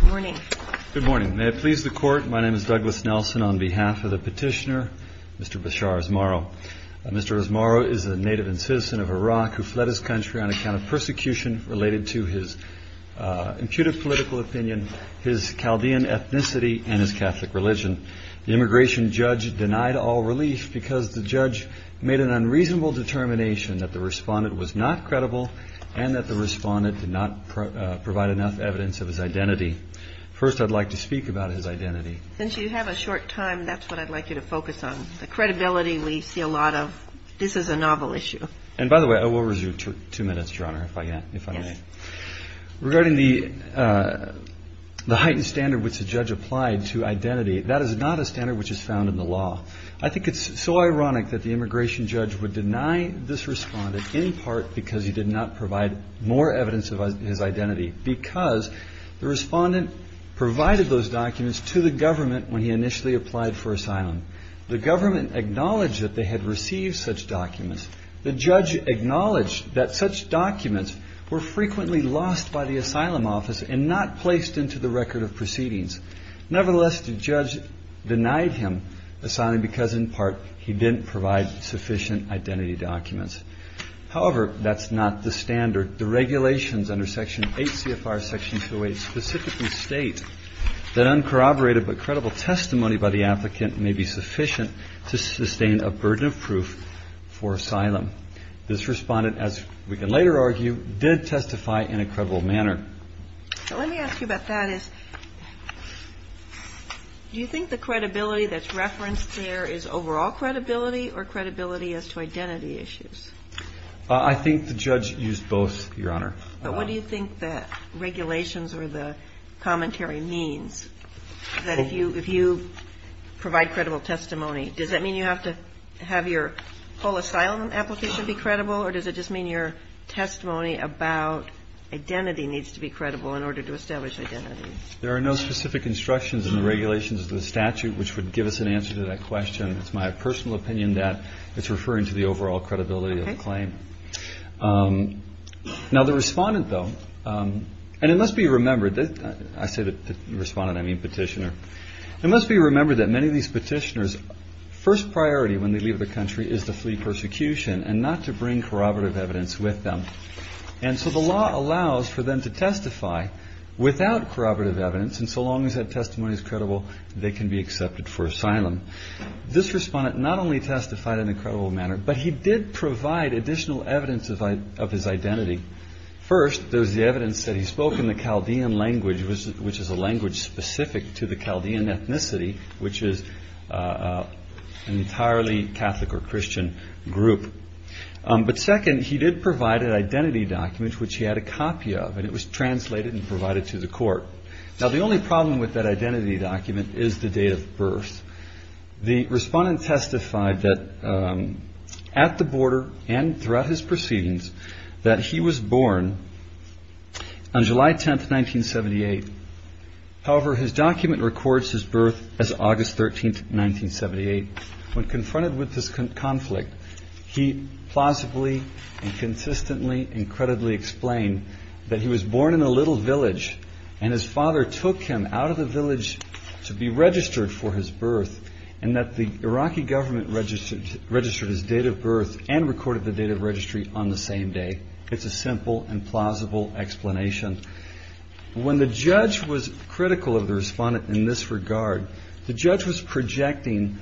Good morning. May it please the Court, my name is Douglas Nelson. On behalf of the petitioner, Mr. Bashar Asmaro. Mr. Asmaro is a native and citizen of Iraq who fled his country on account of persecution related to his impudent political opinion, his Chaldean ethnicity and his Catholic religion. The immigration judge denied all relief because the judge made an unreasonable determination that the respondent was not credible and that the respondent did not provide enough evidence of his identity. First, I'd like to speak about his identity. Since you have a short time, that's what I'd like you to focus on. The credibility we see a lot of. This is a novel issue. And by the way, I will resume in two minutes, Your Honor, if I may. Regarding the heightened standard which the judge applied to identity, that is not a standard which is found in the law. I think it's so ironic that the immigration because the respondent provided those documents to the government when he initially applied for asylum. The government acknowledged that they had received such documents. The judge acknowledged that such documents were frequently lost by the asylum office and not placed into the record of proceedings. Nevertheless, the judge denied him asylum because, in part, he didn't provide sufficient identity documents. However, that's not the standard. The regulations under Section 8 CFR Section 208 specifically state that uncorroborated but credible testimony by the applicant may be sufficient to sustain a burden of proof for asylum. This respondent, as we can later argue, did testify in a credible manner. Let me ask you about that. Do you think the credibility that's referenced there is overall credibility or credibility as to identity issues? I think the judge used both, Your Honor. But what do you think the regulations or the commentary means that if you provide credible testimony, does that mean you have to have your whole asylum application be credible, or does it just mean your testimony about identity needs to be credible in order to establish identity? There are no specific instructions in the regulations of the statute which would give us an answer to that question. It's my personal opinion that it's referring to the overall credibility of the claim. Now, the respondent, though, and it must be remembered, I say the respondent, I mean petitioner, it must be remembered that many of these petitioners' first priority when they leave the country is to flee persecution and not to bring corroborative evidence with them. And so the law allows for them to testify without corroborative evidence, and so long as that testimony is credible, they can be accepted for asylum. This respondent not only testified in an incredible manner, but he did provide additional evidence of his identity. First, there was the evidence that he spoke in the Chaldean language, which is a language specific to the Chaldean ethnicity, which is an entirely Catholic or Christian group. But second, he did provide an identity document which he had a copy of, and it was translated and provided to the court. Now, the only problem with that identity document is the date of birth. The respondent testified that at the border and throughout his proceedings that he was born on July 10, 1978. However, his document records his birth as August 13, 1978. When confronted with this conflict, he plausibly and consistently and credibly explained that he was born in a little village and his father took him out of the village to be registered for his birth and that the Iraqi government registered his date of birth and recorded the date of registry on the same day. It's a simple and plausible explanation. When the judge was critical of the respondent in this regard, the judge was projecting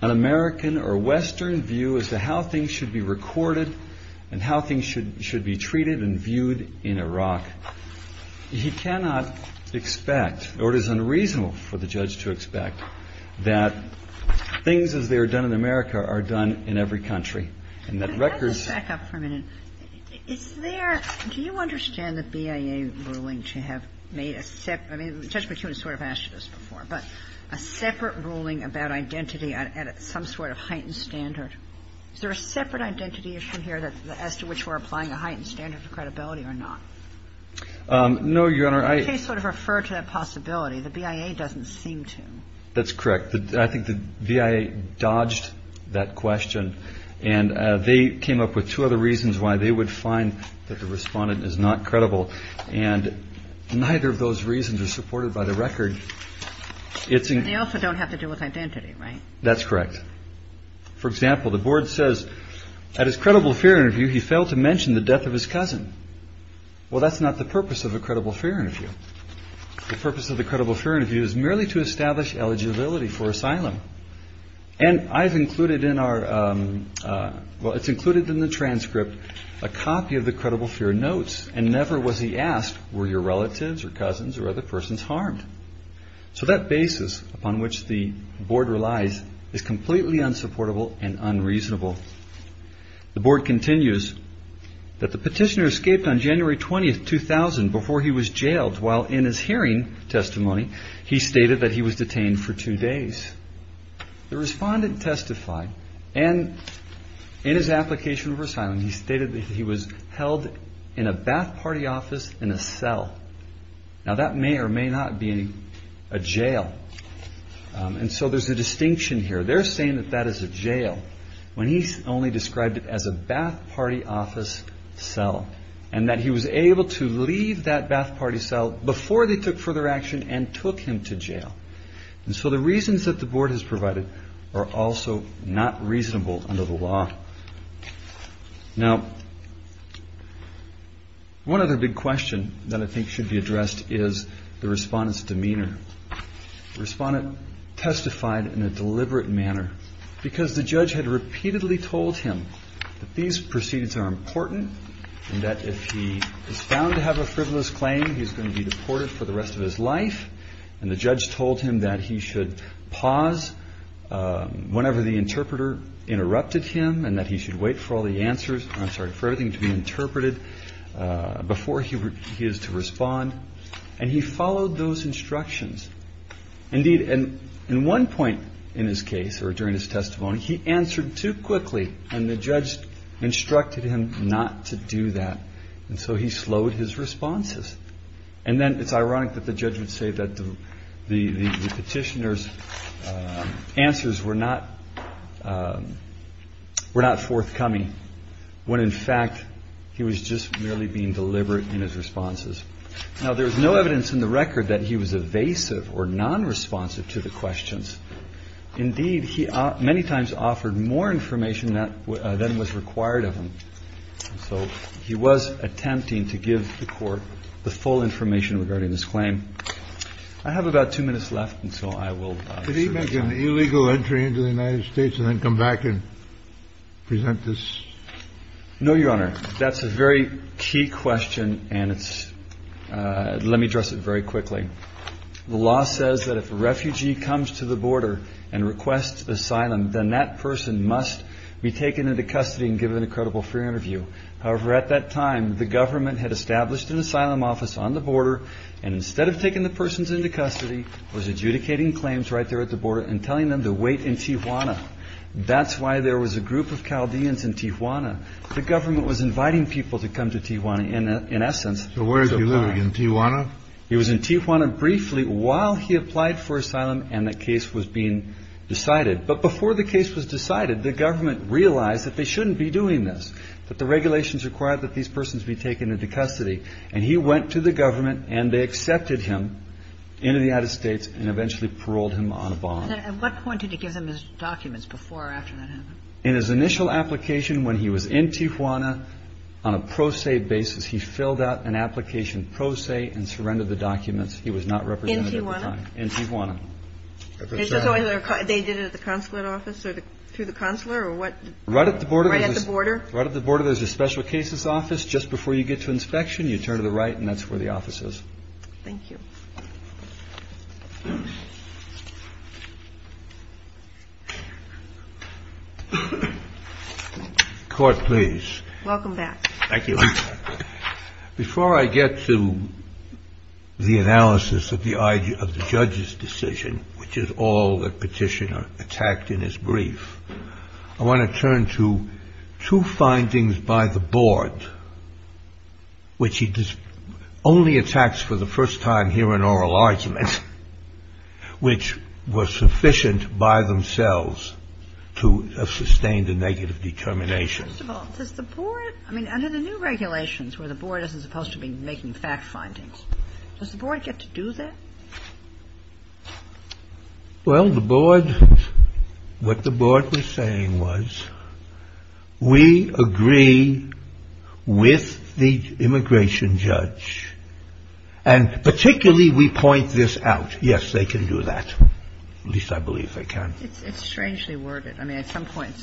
an American or Western view as to how things should be recorded and how things should be treated and viewed in Iraq. He cannot expect, nor is it unreasonable for the judge to expect, that things as they are done in America are done in every country. And that records ---- Kagan, back up for a minute. Is there ñ do you understand the BIA ruling to have made a separate ñ I mean, Judge McEwen has sort of asked this before, but a separate ruling about identity at some sort of heightened standard? Is there a separate identity issue here as to which we're applying a heightened standard of credibility or not? No, Your Honor, I ñ You sort of refer to that possibility. The BIA doesn't seem to. That's correct. I think the BIA dodged that question and they came up with two other reasons why they would find that the respondent is not credible. And neither of those reasons are supported by the record. It's ñ They also don't have to do with identity, right? That's correct. For example, the board says, at his credible fear interview, he failed to mention the death of his cousin. Well, that's not the purpose of a credible fear interview. The purpose of a credible fear interview is merely to establish eligibility for asylum. And I've included in our ñ Well, it's included in the transcript a copy of the credible fear notes and never was he asked, were your relatives or cousins or other persons harmed? So that basis upon which the board relies is completely unsupportable and unreasonable. The board continues that the petitioner escaped on January 20, 2000 before he was jailed while in his hearing testimony, he stated that he was detained for two days. The respondent testified and in his application for asylum, he stated that he was held in a bath party office in a cell. Now, that may or may not be a jail. And so there's a distinction here. They're saying that that is a jail when he's only described it as a bath party office cell and that he was able to leave that bath party cell before they took further action and took him to jail. And so the reasons that the board has provided are also not reasonable under the law. Now, one other big question that I think should be addressed is the respondent's demeanor. The respondent testified in a deliberate manner because the judge had repeatedly told him that these proceedings are important and that if he is found to have a frivolous claim, he's going to be deported for the rest of his life. And the judge told him that he should pause whenever the interpreter interrupted him and that he should wait for all the answers, I'm sorry, for everything to be interpreted before he is to respond. And he followed those instructions. Indeed, in one point in his case or during his testimony, he answered too quickly and the judge instructed him not to do that. And so he slowed his responses. And then it's ironic that the judge would say that the petitioner's answers were not forthcoming when in fact he was just merely being deliberate in his responses. Now, there's no evidence in the record that he was evasive or nonresponsive to the questions. Indeed, he many times offered more information than was required of him. So he was attempting to give the court the full information regarding this claim. I have about two minutes left, and so I will... Can I make an illegal entry into the United States and then come back and present this? No, Your Honor. That's a very key question, and let me address it very quickly. The law says that if a refugee comes to the border and requests asylum, then that person must be taken into custody and given a credible free interview. However, at that time, the government had established an asylum office on the border and instead of taking the persons into custody, was adjudicating claims right there at the border and telling them to wait in Tijuana. That's why there was a group of Chaldeans in Tijuana. The government was inviting people to come to Tijuana in essence... So where did he live? In Tijuana? He was in Tijuana briefly while he applied for asylum and the case was being decided. But before the case was decided, the government realized that they shouldn't be doing this, that the regulations required that these persons be taken into custody. And he went to the government and they accepted him into the United States and eventually paroled him on a bond. At what point did he give them his documents before or after that happened? In his initial application, when he was in Tijuana, on a pro se basis, he filled out an application pro se and surrendered the documents. He was not represented at the time. In Tijuana? In Tijuana. They did it at the consulate office or through the consular or what? Right at the border. Right at the border? Right at the border, there's a special cases office. Just before you get to inspection, you turn to the right and that's where the office is. Thank you. Court, please. Welcome back. Thank you. Before I get to the analysis of the judge's decision, which is all that Petitioner attacked in his brief, I want to turn to two findings by the board which he only attacks for the first time here in oral arguments, which were sufficient by themselves to sustain the negative determination. First of all, does the board, I mean under the new regulations where the board isn't supposed to be making fact findings, does the board get to do that? Well, the board, what the board was saying was we agree with the immigration judge and particularly we point this out. Yes, they can do that. At least I believe they can. It's strangely worded. I mean at some point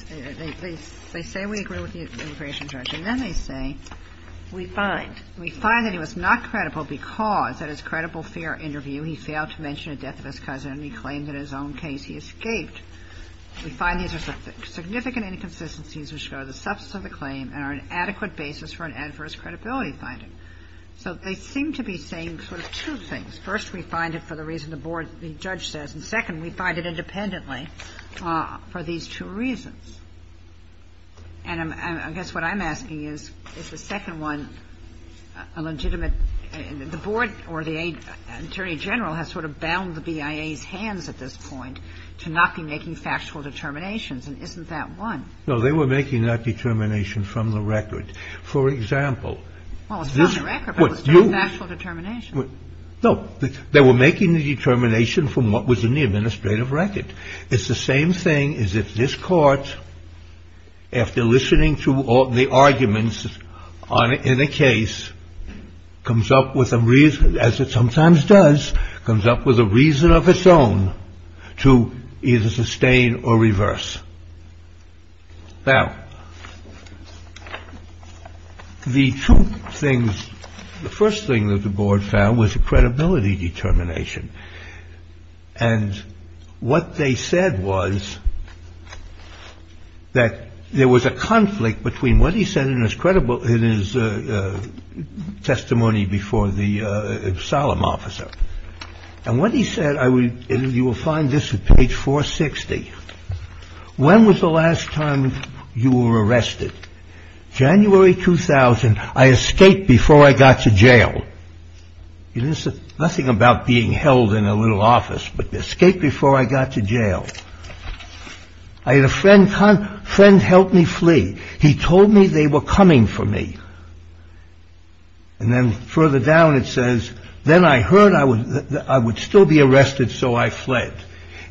they say we agree with the immigration judge and then they say we find. We find that he was not credible because at his credible fair interview he failed to mention the death of his cousin and he claimed in his own case he escaped. We find these are significant inconsistencies which are the substance of the claim and are an adequate basis for an adverse credibility finding. So they seem to be saying sort of two things. First we find it for the reason the board, the judge says and second we find it independently for these two reasons. And I guess what I'm asking is is the second one a legitimate, the board or the attorney general has sort of bound the BIA's hands at this point to not be making factual determinations and isn't that one? No, they were making that determination from the record. For example, Well it's not the record but it's not the factual determination. No, they were making the determination from what was in the administrative record. It's the same thing as if this court after listening to all the arguments in a case comes up with a reason as it sometimes does comes up with a reason of its own to either sustain or reverse. Now the two things the first thing that the board found was a credibility determination and what they said was that there was a conflict between what he said in his testimony before the solemn officer and what he said You will find this at page 460 When was the last time you were arrested? January 2000 I escaped before I got to jail. This is nothing about being held in a little office but escape before I got to jail. I had a friend help me flee. He told me they were coming for me. And then further down it says Then I heard I would still be arrested so I fled.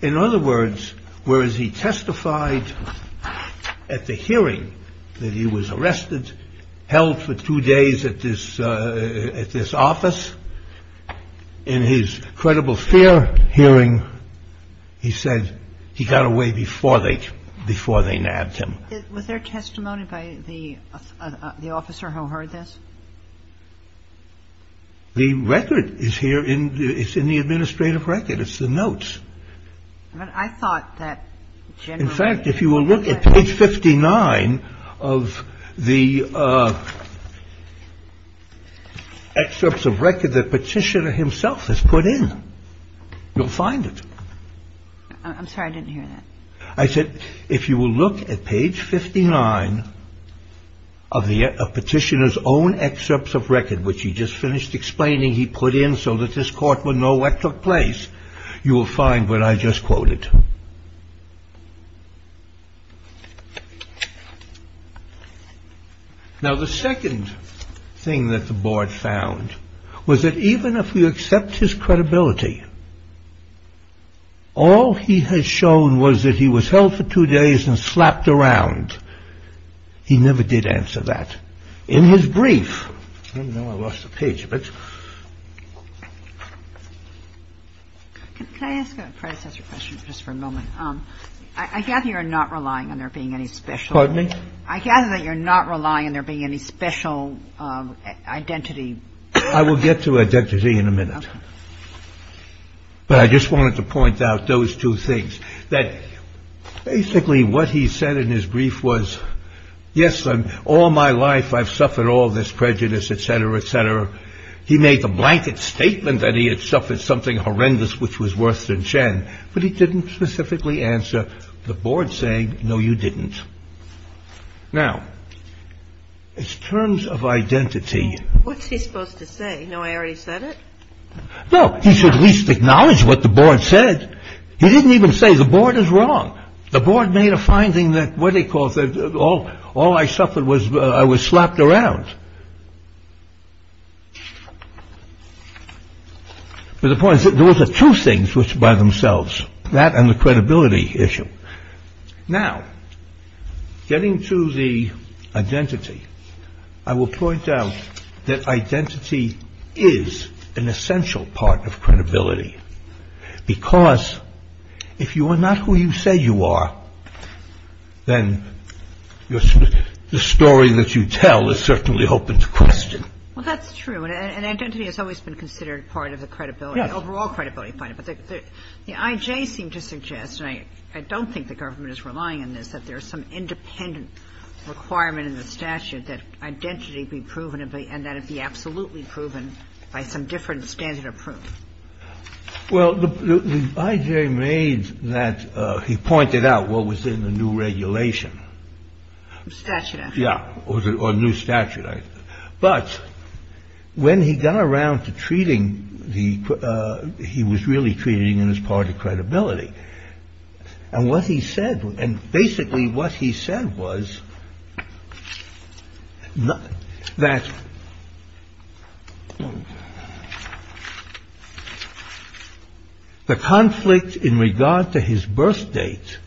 In other words whereas he testified at the hearing that he was arrested held for two days at this office in his credible fear hearing he said he got away before they nabbed him. Was there testimony by the officer who heard this? The record is here it's in the administrative record it's the notes. I thought that In fact if you will look at page 59 of the excerpts of record that Petitioner himself has put in you'll find it. I'm sorry I didn't hear that. I said if you will look at page 59 of Petitioner's own excerpts of record which he just finished explaining he put in so that this court would know what took place you will find what I just quoted. Now the second thing that the board found was that even if we accept his credibility all he has shown was that he was held for two days and slapped around he never did answer that in his brief I don't know I lost the page Can I ask a predecessor question just for a moment I gather you're not relying on there being any special Pardon me? I gather that you're not relying on there being any special identity I will get to identity in a minute but I just wanted to point out those two things that basically what he said in his brief was yes in all my life I've suffered all this prejudice etc. etc. he made the blanket statement that he had suffered something horrendous which was worse than Chen but he didn't specifically answer the board saying no you didn't now in terms of identity what's he supposed to say no I already said it no he should at least acknowledge what the board said he didn't even say the board is wrong the board made a finding that what he calls all I suffered was I was slapped around but the point is those are two things which by themselves that and the credibility issue now getting to the identity I will point out that identity is an essential part of credibility because if you are not who you say you are then the story that you tell is certainly open to question well that's true and identity has always been considered part of the credibility overall credibility but the I.J. seemed to suggest and I don't think the government is relying on this that there is some independent requirement in the statute that identity be proven and that it be absolutely proven by some different standard of proof well the I.J. made that he pointed out what was in the new regulation statute yeah or new statute but when he got around to treating he was really treating it as part of credibility and what he said and basically what he said was that the conflict in regard to his birth date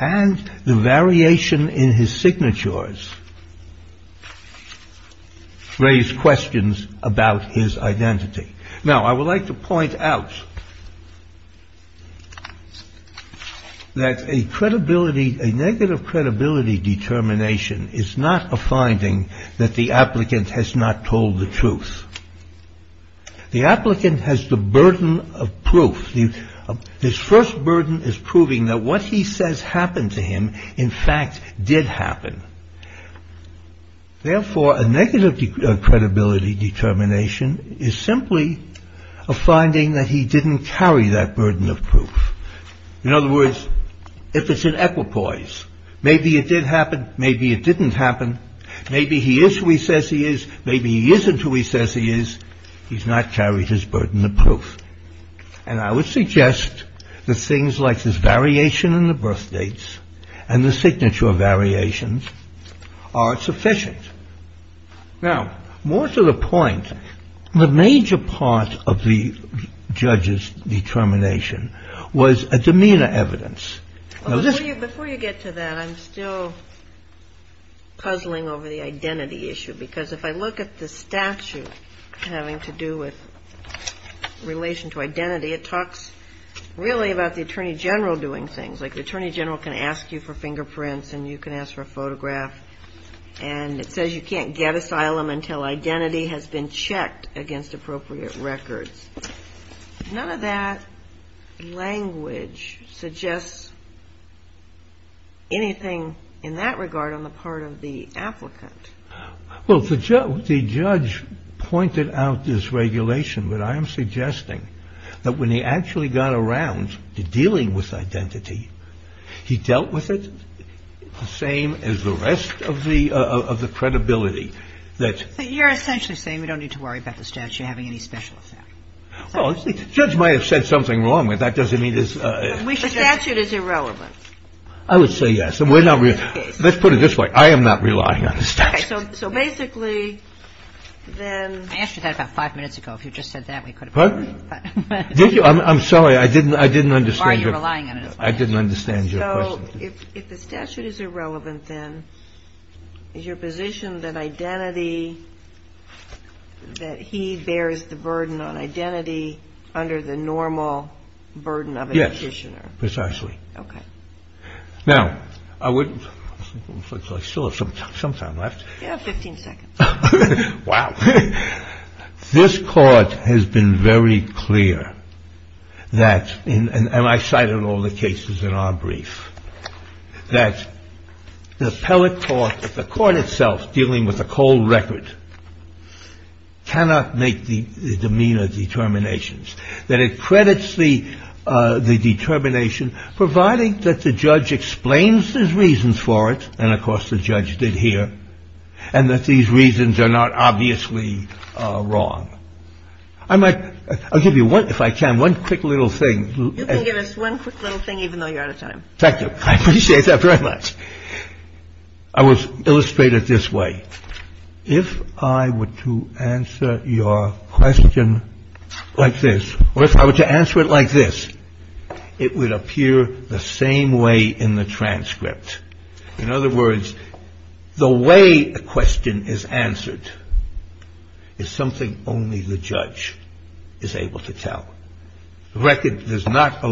and the variation in his signatures raised questions about his identity now I would like to point out that a credibility a negative credibility determination is not a finding that the applicant has not told the truth the applicant has the burden of proof his first burden is proving that what he says happened to him in fact did happen therefore a negative credibility determination is simply a finding that he didn't carry that burden of proof in other words if it's an equipoise maybe it did happen maybe it didn't happen maybe he is who he says he is maybe he isn't who he says he is he's not carried his burden of proof and I would suggest that things like this variation in the birth dates and the signature variations are sufficient now more to the point the major part of the judge's determination was a demeanor evidence now this before you get to that I'm still puzzling over the identity issue because if I look at the statute having to do with relation to identity it talks really about the attorney general doing things like the attorney general can ask you for fingerprints and you can ask for a photograph and it says you can't get asylum until identity has been checked against appropriate records none of that language suggests anything in that regard on the part of the applicant well the judge pointed out this regulation but I am suggesting that when he actually got around to dealing with identity he dealt with it the same as the rest of the credibility that you're essentially saying we don't need to worry about the statute having any special effect well the judge might have said something wrong but that doesn't mean the statute is irrelevant I would say yes let's put it this way I am not I'm sorry I didn't understand I didn't understand your question so if the statute is irrelevant then is your position that identity that he bears the burden on identity under the normal burden of a petitioner yes precisely okay now I would still have some time left yeah 15 seconds wow this court has been very clear that and I cited all the cases in our brief that the appellate court the court itself dealing with a cold record cannot make the demeanor determinations that it credits the determination providing that the judge explains the reasons for it and of course the judge did here and that these reasons are not obviously wrong I might I'll give you one if I can one quick little thing thank you I appreciate that very much I was illustrated this way if I were to answer your question like this or if I were to answer it like this it would appear the same way in the transcript in other words the way a question is answered is something only the judge is able to tell the record does not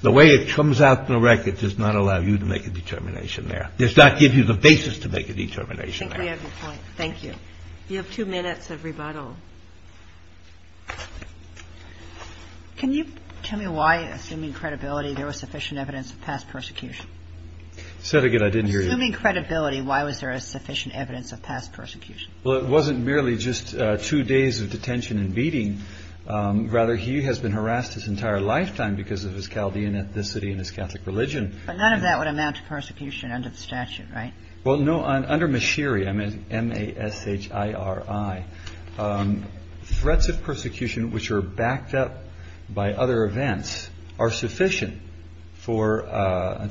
the way it comes out in the record does not allow you to make a determination there does not give you the basis to make a determination there thank you you have two minutes of rebuttal can you tell me why assuming credibility there was sufficient evidence of past persecution well it wasn't merely just two days of detention and beating rather he has been harassed his entire lifetime because of his chaldean ethnicity and his catholic religion but none of that would amount to persecution under the statute right well no under mashiri m-a-s-h-i-r-i threats of persecution which are backed up by other events are sufficient to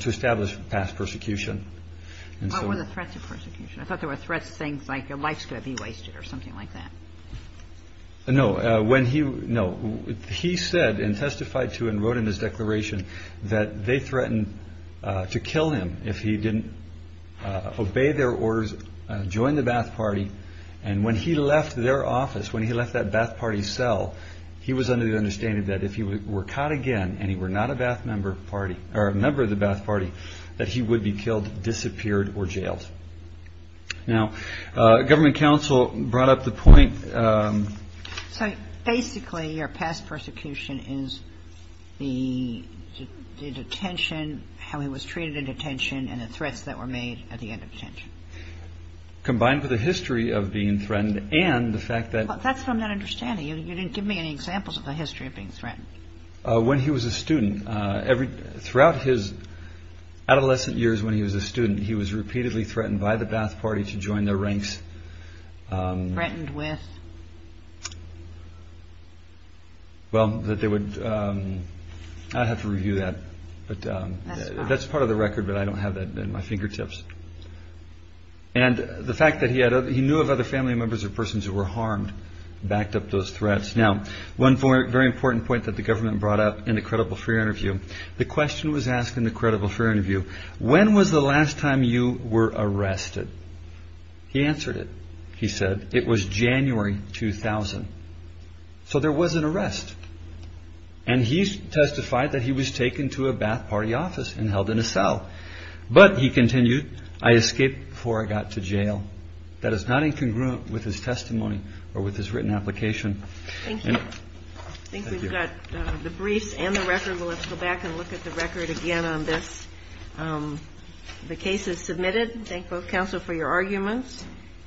establish past persecution what were the threats of persecution i thought there were threats of things like your life's going to be wasted or something like that no he said and testified to and wrote in his declaration that they threatened to kill him if he didn't obey their orders join the bath party and when he left their office when he left that bath party cell he was under the understanding that if he were caught again and he were not a member of the bath party that he would be killed disappeared or jailed now government council brought up the point basically your past persecution is the detention how he was treated in detention and the threats that were made at the end of detention combined with the history of being threatened and the fact that you didn't give me any examples of the history of being threatened when he was a student throughout his adolescent years he said when was the last time you were arrested he answered it he said it was January 2000 so there was an arrest and he testified that he was taken to a bath party office and held in a cell but he continued I escaped before I got to the prison and he said was taken cell but he continued I escaped before I got to the prison and he said I escaped before I got to the prison when was the last time you were not arrested he said it was January 2000 so there was an arrest and he continued